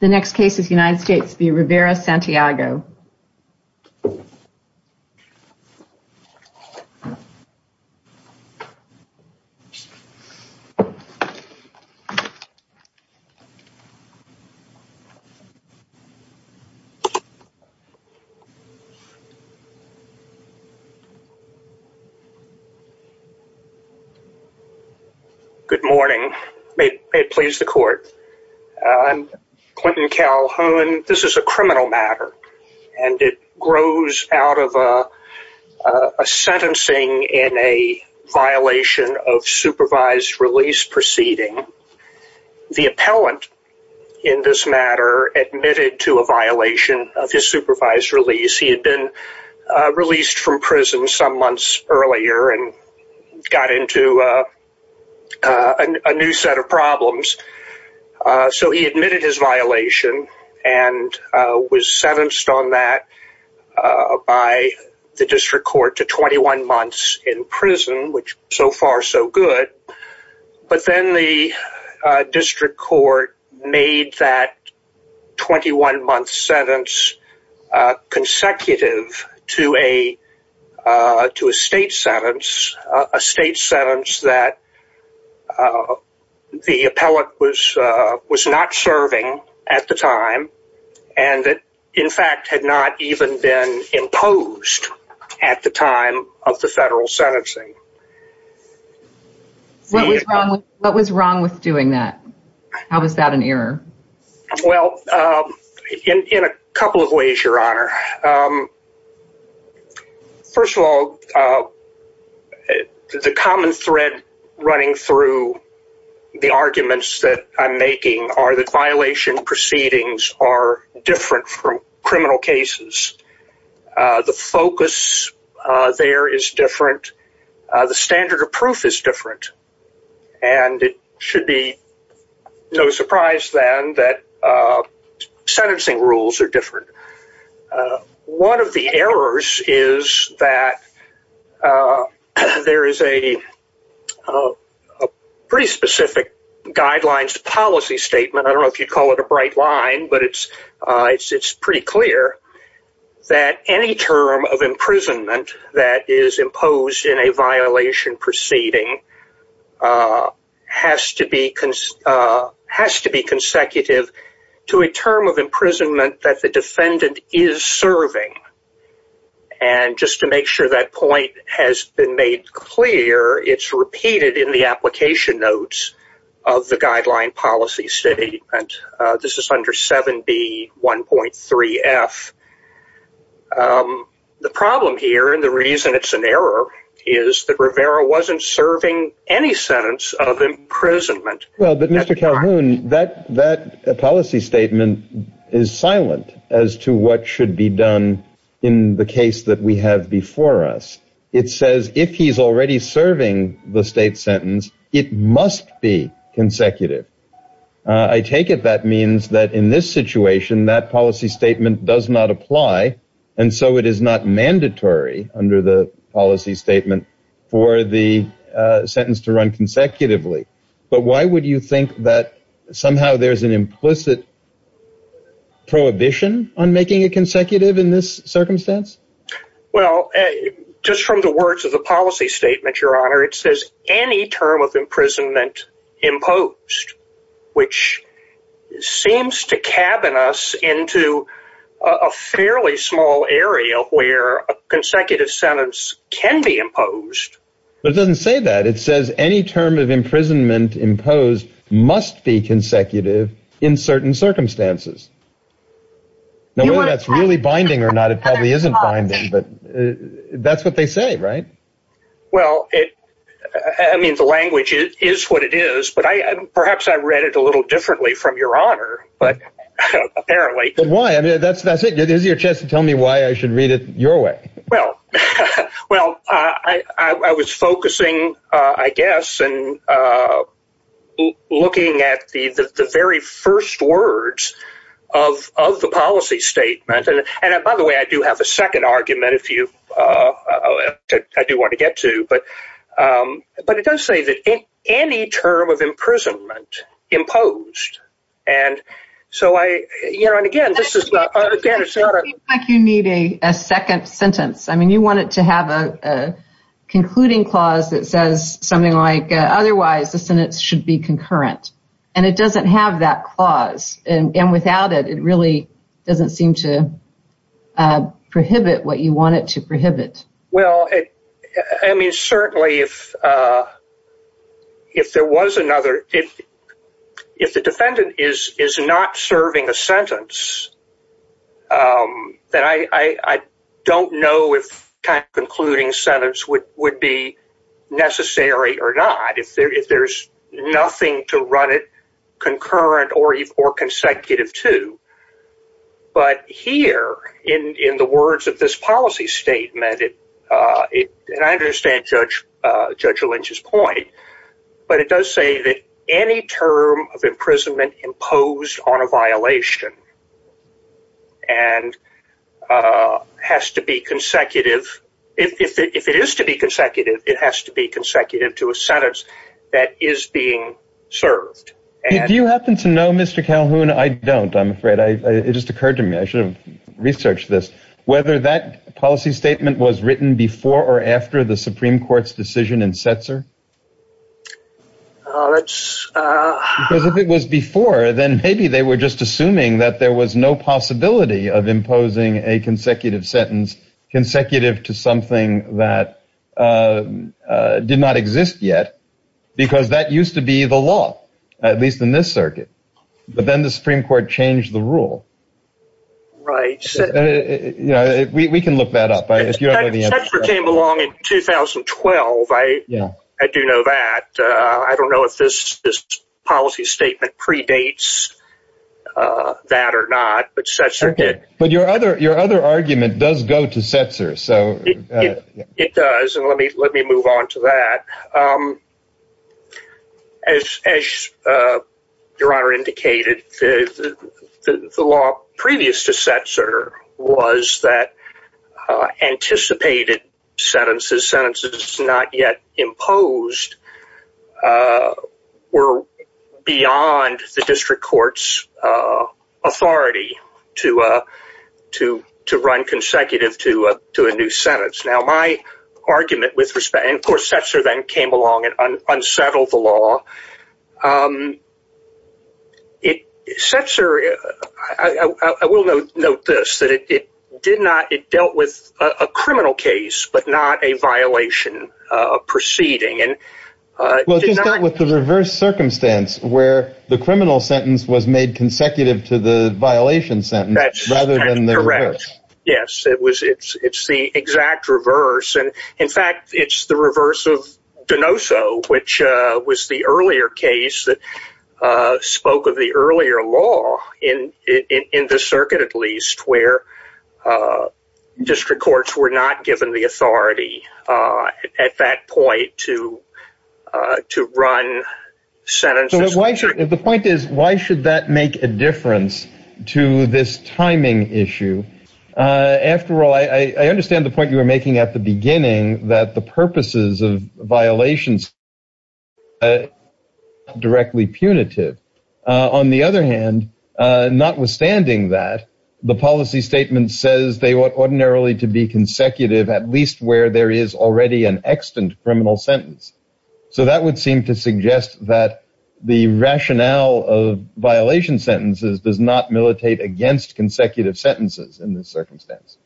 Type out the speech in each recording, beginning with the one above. The next case is United States v. Rivera-Santiago. Good morning, may it please the court, I'm Clinton Calhoun, this is a criminal matter. And it grows out of a sentencing in a violation of supervised release proceeding. The appellant in this matter admitted to a violation of his supervised release. He had been released from prison some months earlier and got into a new set of problems. So he admitted his violation and was sentenced on that by the district court to 21 months in prison, which so far so good. But then the district court made that 21 month sentence consecutive to a state sentence, a state sentence that the appellant was not serving at the time, and in fact had not even been imposed at the time of the federal sentencing. What was wrong with doing that? How was that an error? Well, in a couple of ways, your honor. First of all, the common thread running through the arguments that I'm making are that violation proceedings are different from criminal cases. The focus there is different. The standard of proof is different. And it should be no surprise then that sentencing rules are different. One of the errors is that there is a pretty specific guidelines policy statement, I don't know if you'd call it a bright line, but it's pretty clear that any term of imprisonment that is imposed in a violation proceeding has to be consecutive to a term of imprisonment that the defendant is serving. And just to make sure that point has been made clear, it's repeated in the application notes of the guideline policy statement. This is under 7B1.3F. The problem here, and the reason it's an error, is that Rivera wasn't serving any sentence of imprisonment. Well, but Mr. Calhoun, that policy statement is silent as to what should be done in the case that we have before us. It says if he's already serving the state sentence, it must be consecutive. I take it that means that in this situation, that policy statement does not apply, and so it is not mandatory under the policy statement for the sentence to run consecutively. But why would you think that somehow there's an implicit prohibition on making it consecutive in this circumstance? Well, just from the words of the policy statement, Your Honor, it says any term of imprisonment imposed, which seems to cabin us into a fairly small area where a consecutive sentence can be imposed. But it doesn't say that. It says any term of imprisonment imposed must be consecutive in certain circumstances. Now, whether that's really binding or not, it probably isn't binding, but that's what they say, right? Well, I mean, the language is what it is, but perhaps I read it a little differently from Your Honor, but apparently... But why? I mean, that's it. This is your chance to tell me why I should read it your way. Well, I was focusing, I guess, and looking at the very first words of the policy statement, and by the way, I do have a second argument if I do want to get to, but it does say that any term of imprisonment imposed, and so I, you know, and again, this is... It seems like you need a second sentence. I mean, you want it to have a concluding clause that says something like, otherwise the sentence should be concurrent, and it doesn't have that clause, and without it, it really doesn't seem to prohibit what you want it to prohibit. Well, I mean, certainly if there was another... If the defendant is not serving a sentence, then I don't know if a concluding sentence would be necessary or not. If there's nothing to run it concurrent or consecutive to, but here in the words of this policy statement, and I understand Judge Lynch's point, but it does say that any term of imprisonment imposed on a violation and has to be consecutive. If it is to be consecutive, it has to be consecutive. I don't happen to know, Mr. Calhoun. I don't, I'm afraid. It just occurred to me. I should have researched this. Whether that policy statement was written before or after the Supreme Court's decision in Setzer? Because if it was before, then maybe they were just assuming that there was no possibility of imposing a consecutive sentence, consecutive to something that did not But then the Supreme Court changed the rule. Right. We can look that up. Setzer came along in 2012. I do know that. I don't know if this policy statement predates that or not, but Setzer did. But your other argument does go to Setzer. It does. And let me move on to that. As your Honor indicated, the law previous to Setzer was that anticipated sentences, sentences not yet imposed were beyond the district court's authority to run consecutive to a new sentence. Now, my argument with respect, and of course, Setzer then came along and unsettled the law. Setzer, I will note this, that it did not, it dealt with a criminal case, but not a violation proceeding. Well, it just dealt with the reverse circumstance where the criminal sentence was made consecutive to the violation sentence rather than the reverse. Yes, it was. It's the exact reverse. And in fact, it's the reverse of Donoso, which was the earlier case that spoke of the earlier law in the circuit, at least where district courts were not given the authority at that point to run sentences. So the point is, why should that make a difference to this timing issue? After all, I understand the point you were making at the beginning, that the purposes of violations are not directly punitive. On the other hand, notwithstanding that, the policy statement says they want ordinarily to be consecutive, at least where there is already an extant criminal sentence. So that would seem to suggest that the rationale of violation sentences does not militate against consecutive sentences in this circumstance.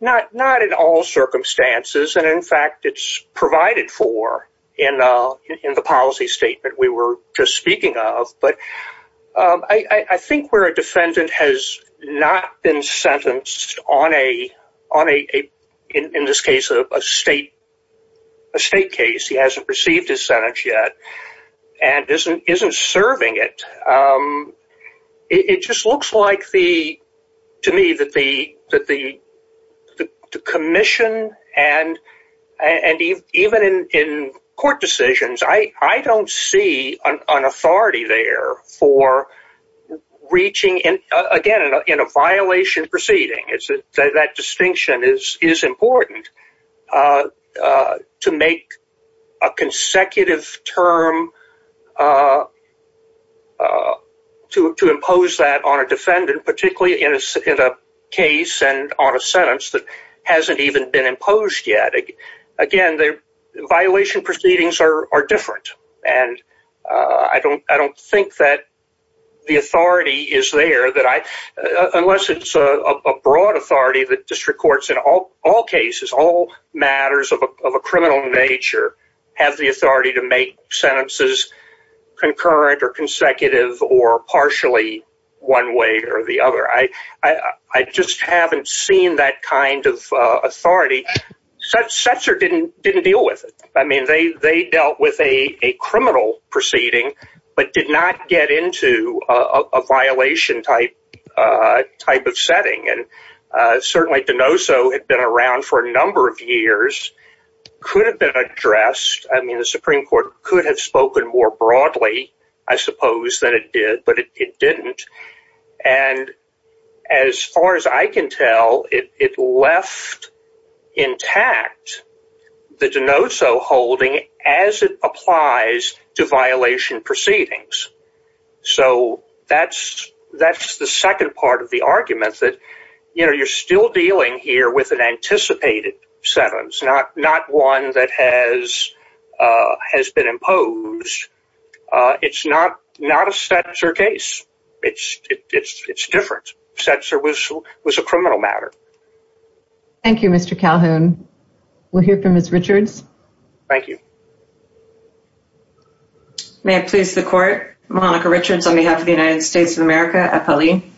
Not in all circumstances. And in fact, it's provided for in the policy statement we were just speaking of. But I think where a defendant has not been sentenced on a, in this case, a state case, he hasn't received his sentence yet, and isn't serving it, it just looks like to me that the for reaching, again, in a violation proceeding, that distinction is important, to make a consecutive term to impose that on a defendant, particularly in a case and on a sentence that hasn't even been the authority is there, unless it's a broad authority that district courts in all cases, all matters of a criminal nature, have the authority to make sentences concurrent or consecutive or partially one way or the other. I just haven't seen that kind of authority. Setzer didn't deal with it. I mean, they dealt with a criminal proceeding, but did not get into a violation type of setting. And certainly Denoso had been around for a number of years, could have been addressed. I mean, the Supreme Court could have spoken more broadly, I suppose, than it did, but it didn't. And as far as I can tell, it left intact the Denoso holding as it applies to violation proceedings. So that's the second part of the argument that, you know, you're still dealing here with an anticipated sentence, not one that has been imposed. It's not a Setzer case. It's different. Setzer was a criminal matter. Thank you, Mr. Calhoun. We'll hear from Ms. Richards. Thank you. May it please the court. Monica Richards on behalf of the United States of America at Pelley.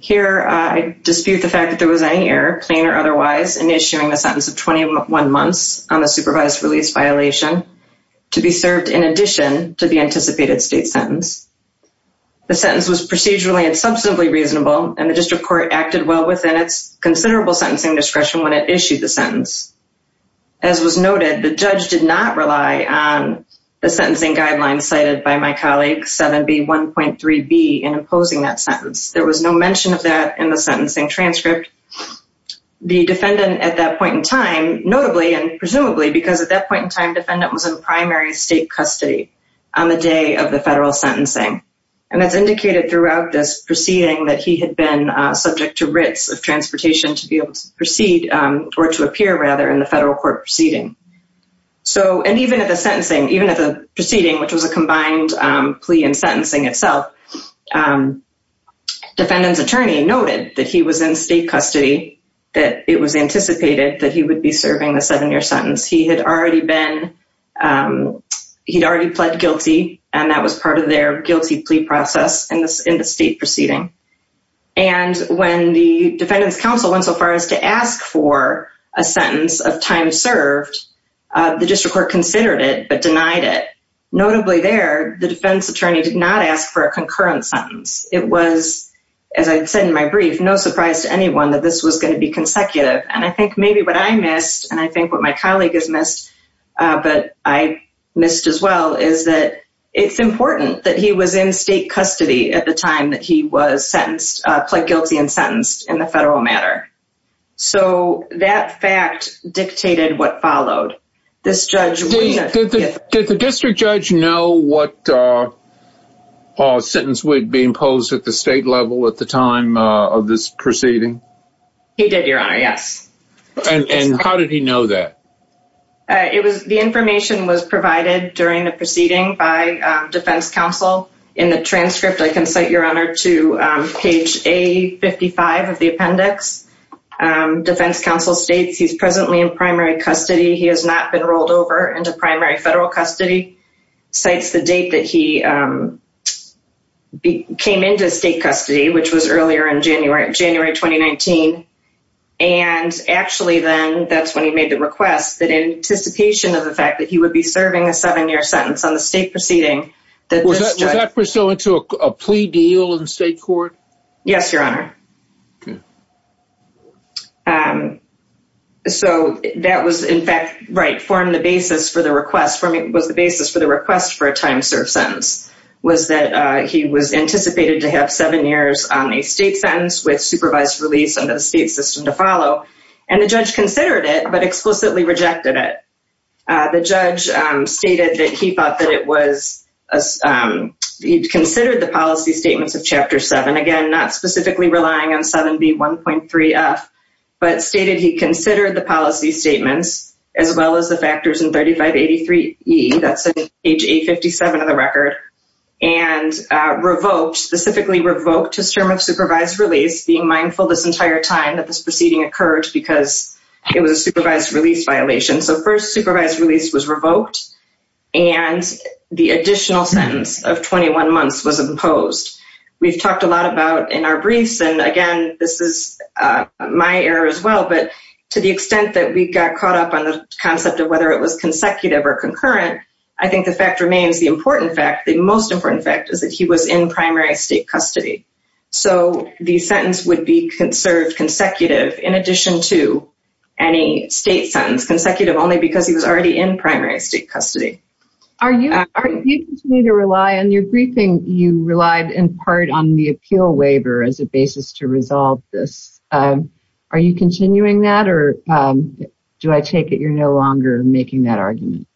Here, I dispute the fact that there was any error, plain or otherwise, in issuing the sentence of 21 months on the supervised release violation to be served in addition to the anticipated state sentence. The sentence was procedurally and substantively reasonable, and the district court acted well within its considerable sentencing discretion when it issued the sentence. As was noted, the judge did not rely on the sentencing guidelines cited by my colleague 7B1.3b in imposing that sentence. There was no mention of that in the sentencing transcript. The defendant at that point in time, notably and presumably because at that point in time, defendant was in primary state custody on the day of the federal sentencing. And it's indicated throughout this proceeding that he had been subject to writs of transportation to be able to proceed or to appear rather in the federal court proceeding. So, and even at the sentencing, even at the proceeding, which was a combined plea and sentencing itself, defendant's attorney noted that he was in state custody, that it was anticipated that he would be serving the seven-year sentence. He had already been, he'd already pled guilty, and that was part of their guilty plea process in the state proceeding. And when the defendant's counsel went so far as to ask for a sentence of time served, the district court considered it but denied it. Notably there, the defense attorney did not ask for a concurrent sentence. It was, as I said in my brief, no surprise to anyone that this was going to be consecutive. And I think maybe what I missed, and I think what my colleague has missed, but I missed as well, is that it's important that he was in state custody at the time that he was sentenced, pled guilty and sentenced in the federal matter. So that fact dictated what followed. This judge- Did the district judge know what sentence would be imposed at the state level at the time of this proceeding? He did, your honor, yes. And how did he know that? It was, the information was provided during the proceeding by defense counsel. In the transcript, I can cite your honor to page A55 of the appendix. Defense counsel states he's presently in primary custody, he has not been rolled over into primary federal custody. Cites the date that he came into state custody, which was earlier in January, January 2019. And actually then that's when he made the request that in anticipation of the fact that he would be serving a seven-year sentence on the state proceeding- Was that pursuant to a plea deal in state court? Yes, your honor. So that was in fact, right, formed the basis for the request, was the basis for the request for a time served sentence, was that he was anticipated to have seven years on a state sentence with supervised release under the state system to follow. And the judge considered it, but explicitly rejected it. The judge stated that he thought it was, he considered the policy statements of chapter seven, again, not specifically relying on 7B1.3F, but stated he considered the policy statements as well as the factors in 3583E, that's in page A57 of the record, and revoked, specifically revoked his term of supervised release, being mindful this entire time that this proceeding occurred because it was a supervised release violation. So first supervised release was revoked, and the additional sentence of 21 months was imposed. We've talked a lot about in our briefs, and again, this is my error as well, but to the extent that we got caught up on the concept of whether it was consecutive or concurrent, I think the fact remains the important fact, the most important fact is that he was in primary state custody. So the sentence would be conserved consecutive in addition to any state sentence, consecutive only because he was already in primary state custody. Are you, are you continuing to rely on your briefing, you relied in part on the appeal waiver as a basis to resolve this. Are you continuing that, or do I take it you're no longer making that argument?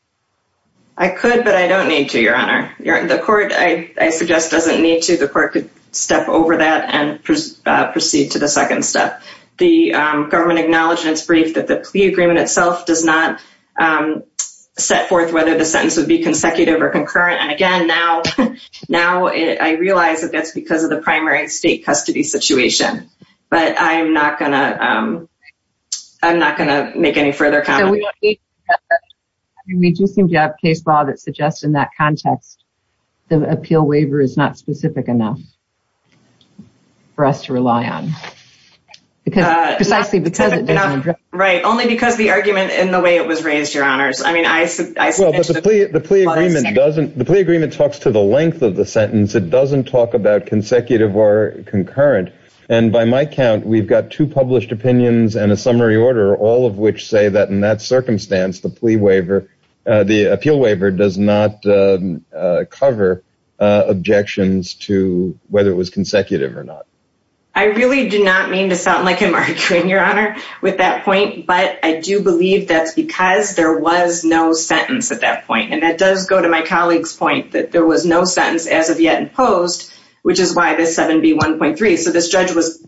I could, but I don't need to, Your Honor. The court, I suggest, doesn't need to. The court could step over that and proceed to the second step. The government acknowledged in its brief that the plea agreement itself does not set forth whether the sentence would be consecutive or concurrent. And again, now, now I realize that that's because of the primary state custody situation, but I'm not going to, I'm not going to make any further comments. We do seem to have case law that suggests in that context, the appeal waiver is not specific enough for us to rely on. Because precisely because it doesn't. Right, only because the argument in the way it was raised, Your Honors. I mean, I, I. Well, but the plea, the plea agreement doesn't, the plea agreement talks to the length of the sentence. It doesn't talk about consecutive or concurrent. And by my count, we've got two published opinions and a summary order, all of which say that in that circumstance, the plea waiver, the appeal waiver does not cover objections to whether it was consecutive or not. I really do not mean to sound like I'm arguing, Your Honor, with that point, but I do believe that's because there was no sentence at that point. And that does go to my colleague's point that there was no sentence as of yet imposed, which is why this 7B1.3. So this judge was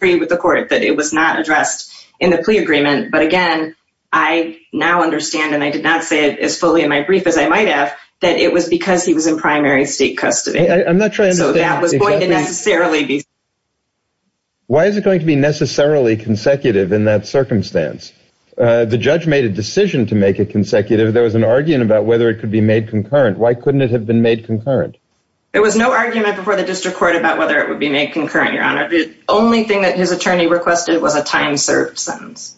with the court that it was not addressed in the plea agreement. But again, I now understand, and I did not say it as fully in my brief as I might have, that it was because he was in primary state custody. So that was going to necessarily be. Why is it going to be necessarily consecutive in that circumstance? The judge made a decision to make it consecutive. There was an argument about whether it could be made concurrent. Why couldn't it have been made concurrent? There was no argument before the district court about whether it would be made concurrent, Your Honor. The only thing that his attorney requested was a time served sentence.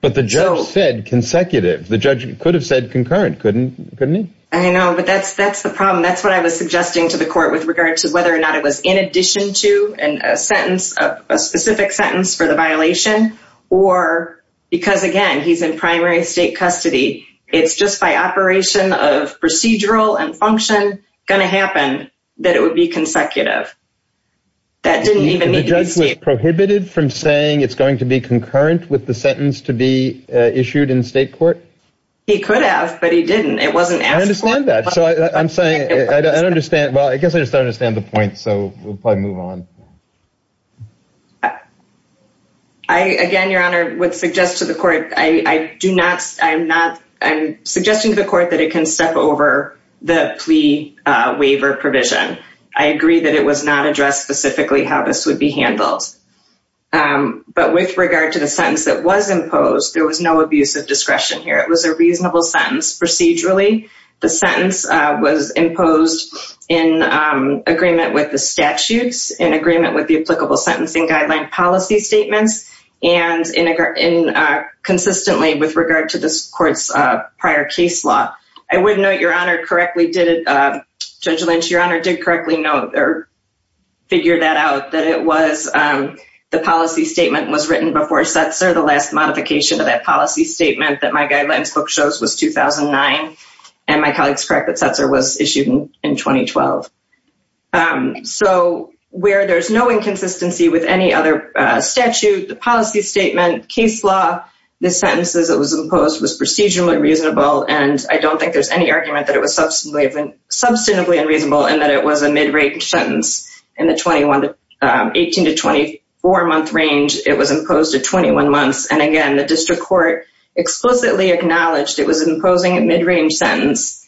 But the judge said consecutive. The judge could have said concurrent, couldn't he? I know, but that's the problem. That's what I was suggesting to the court with regard to whether or not it was in addition to a sentence, a specific sentence for the violation or because, again, he's in primary state custody. It's just by operation of procedural and function going to happen that it would be consecutive. That didn't even need to be prohibited from saying it's going to be concurrent with the sentence to be issued in state court. He could have, but he didn't. It wasn't asked for that. So I'm saying I don't understand. Well, I guess I just don't understand the point. So we'll probably move on. I again, Your Honor, would suggest to the court, I do not. I'm not. I'm suggesting to the court that it can step over the plea waiver provision. I agree that it was not addressed specifically how this would be handled. But with regard to the sentence that was imposed, there was no abuse of discretion here. It was a reasonable sentence procedurally. The sentence was imposed in agreement with the statutes, in agreement with the applicable prior case law. I would note, Your Honor, correctly did it. Judge Lynch, Your Honor, did correctly know or figure that out, that it was the policy statement was written before Setzer, the last modification of that policy statement that my guidelines book shows was 2009. And my colleague's correct that Setzer was issued in 2012. So where there's no inconsistency with any other statute, the policy statement, case law, the sentences that was imposed was procedurally reasonable. And I don't think there's any argument that it was substantively unreasonable and that it was a mid-range sentence. In the 18 to 24 month range, it was imposed at 21 months. And again, the district court explicitly acknowledged it was imposing a mid-range sentence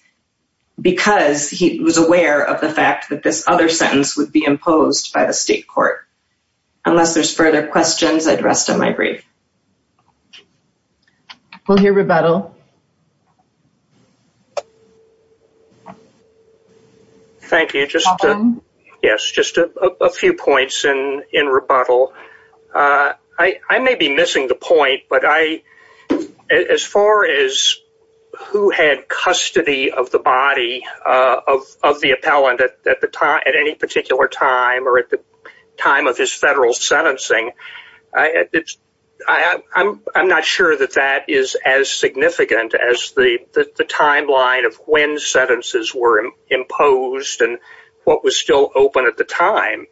because he was aware of the fact that this other sentence would be imposed by the state court. Unless there's further questions, I'd rest on my brief. We'll hear rebuttal. Thank you. Yes, just a few points in rebuttal. I may be missing the point, but as far as who had custody of the body of the appellant at any particular time or at the time of his sentencing, I'm not sure that that is as significant as the timeline of when sentences were imposed and what was still open at the time.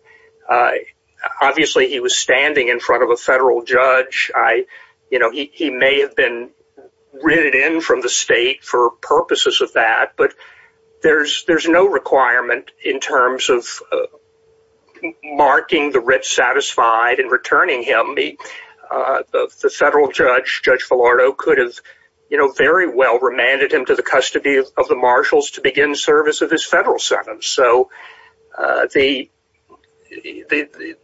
Obviously, he was standing in front of a federal judge. He may have been written in from the state for purposes of that, but there's no requirement in terms of marking the writ satisfied and returning him. The federal judge, Judge Villardo, could have very well remanded him to the custody of the marshals to begin service of his federal sentence. So the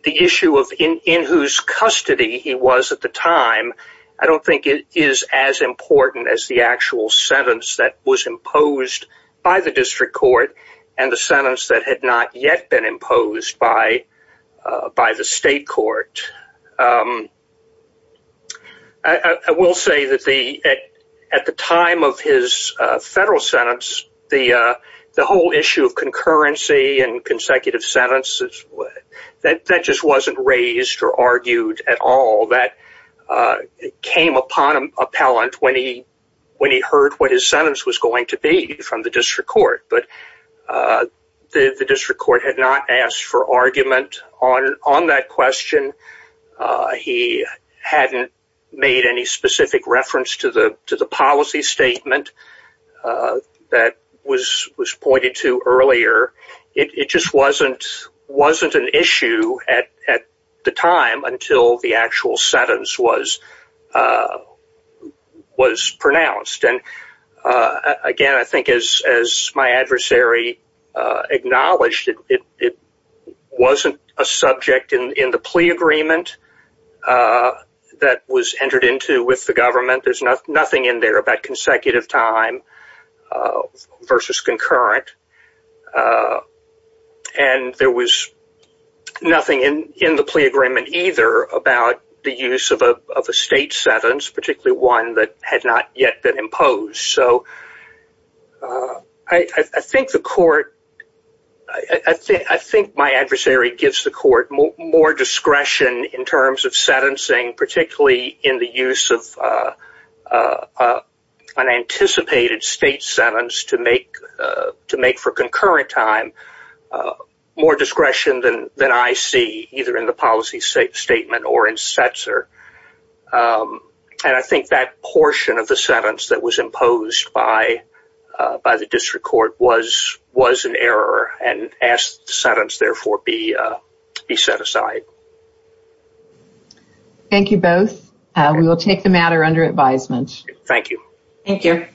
issue of in whose custody he was at the time, I don't think it is as important as the actual sentence that was imposed by the district court and the sentence that had not yet been imposed by the state court. I will say that at the time of his federal sentence, the whole issue of concurrency and consecutive sentences, that just wasn't raised or argued at all. That came upon an appellant when he heard what his sentence was going to be from the district court. But the district court had not asked for argument on that question. He hadn't made any specific reference to the policy statement that was pointed to earlier. It just wasn't an issue at the time until the actual sentence was pronounced. Again, I think as my adversary acknowledged, it wasn't a subject in the plea agreement that was entered into with the government. There's nothing in there about consecutive time versus concurrent. There was nothing in the plea agreement either about the use of a state sentence, particularly one that had not yet been imposed. I think my adversary gives the court more discretion in terms of sentencing, particularly in the use of an anticipated state sentence to make for concurrent time more discretion than I see either in the policy statement or in CETSR. I think that portion of the sentence that was imposed by the district court was an error and asked the sentence therefore be set aside. Thank you both. We will take the matter under advisement. Thank you. Thank you.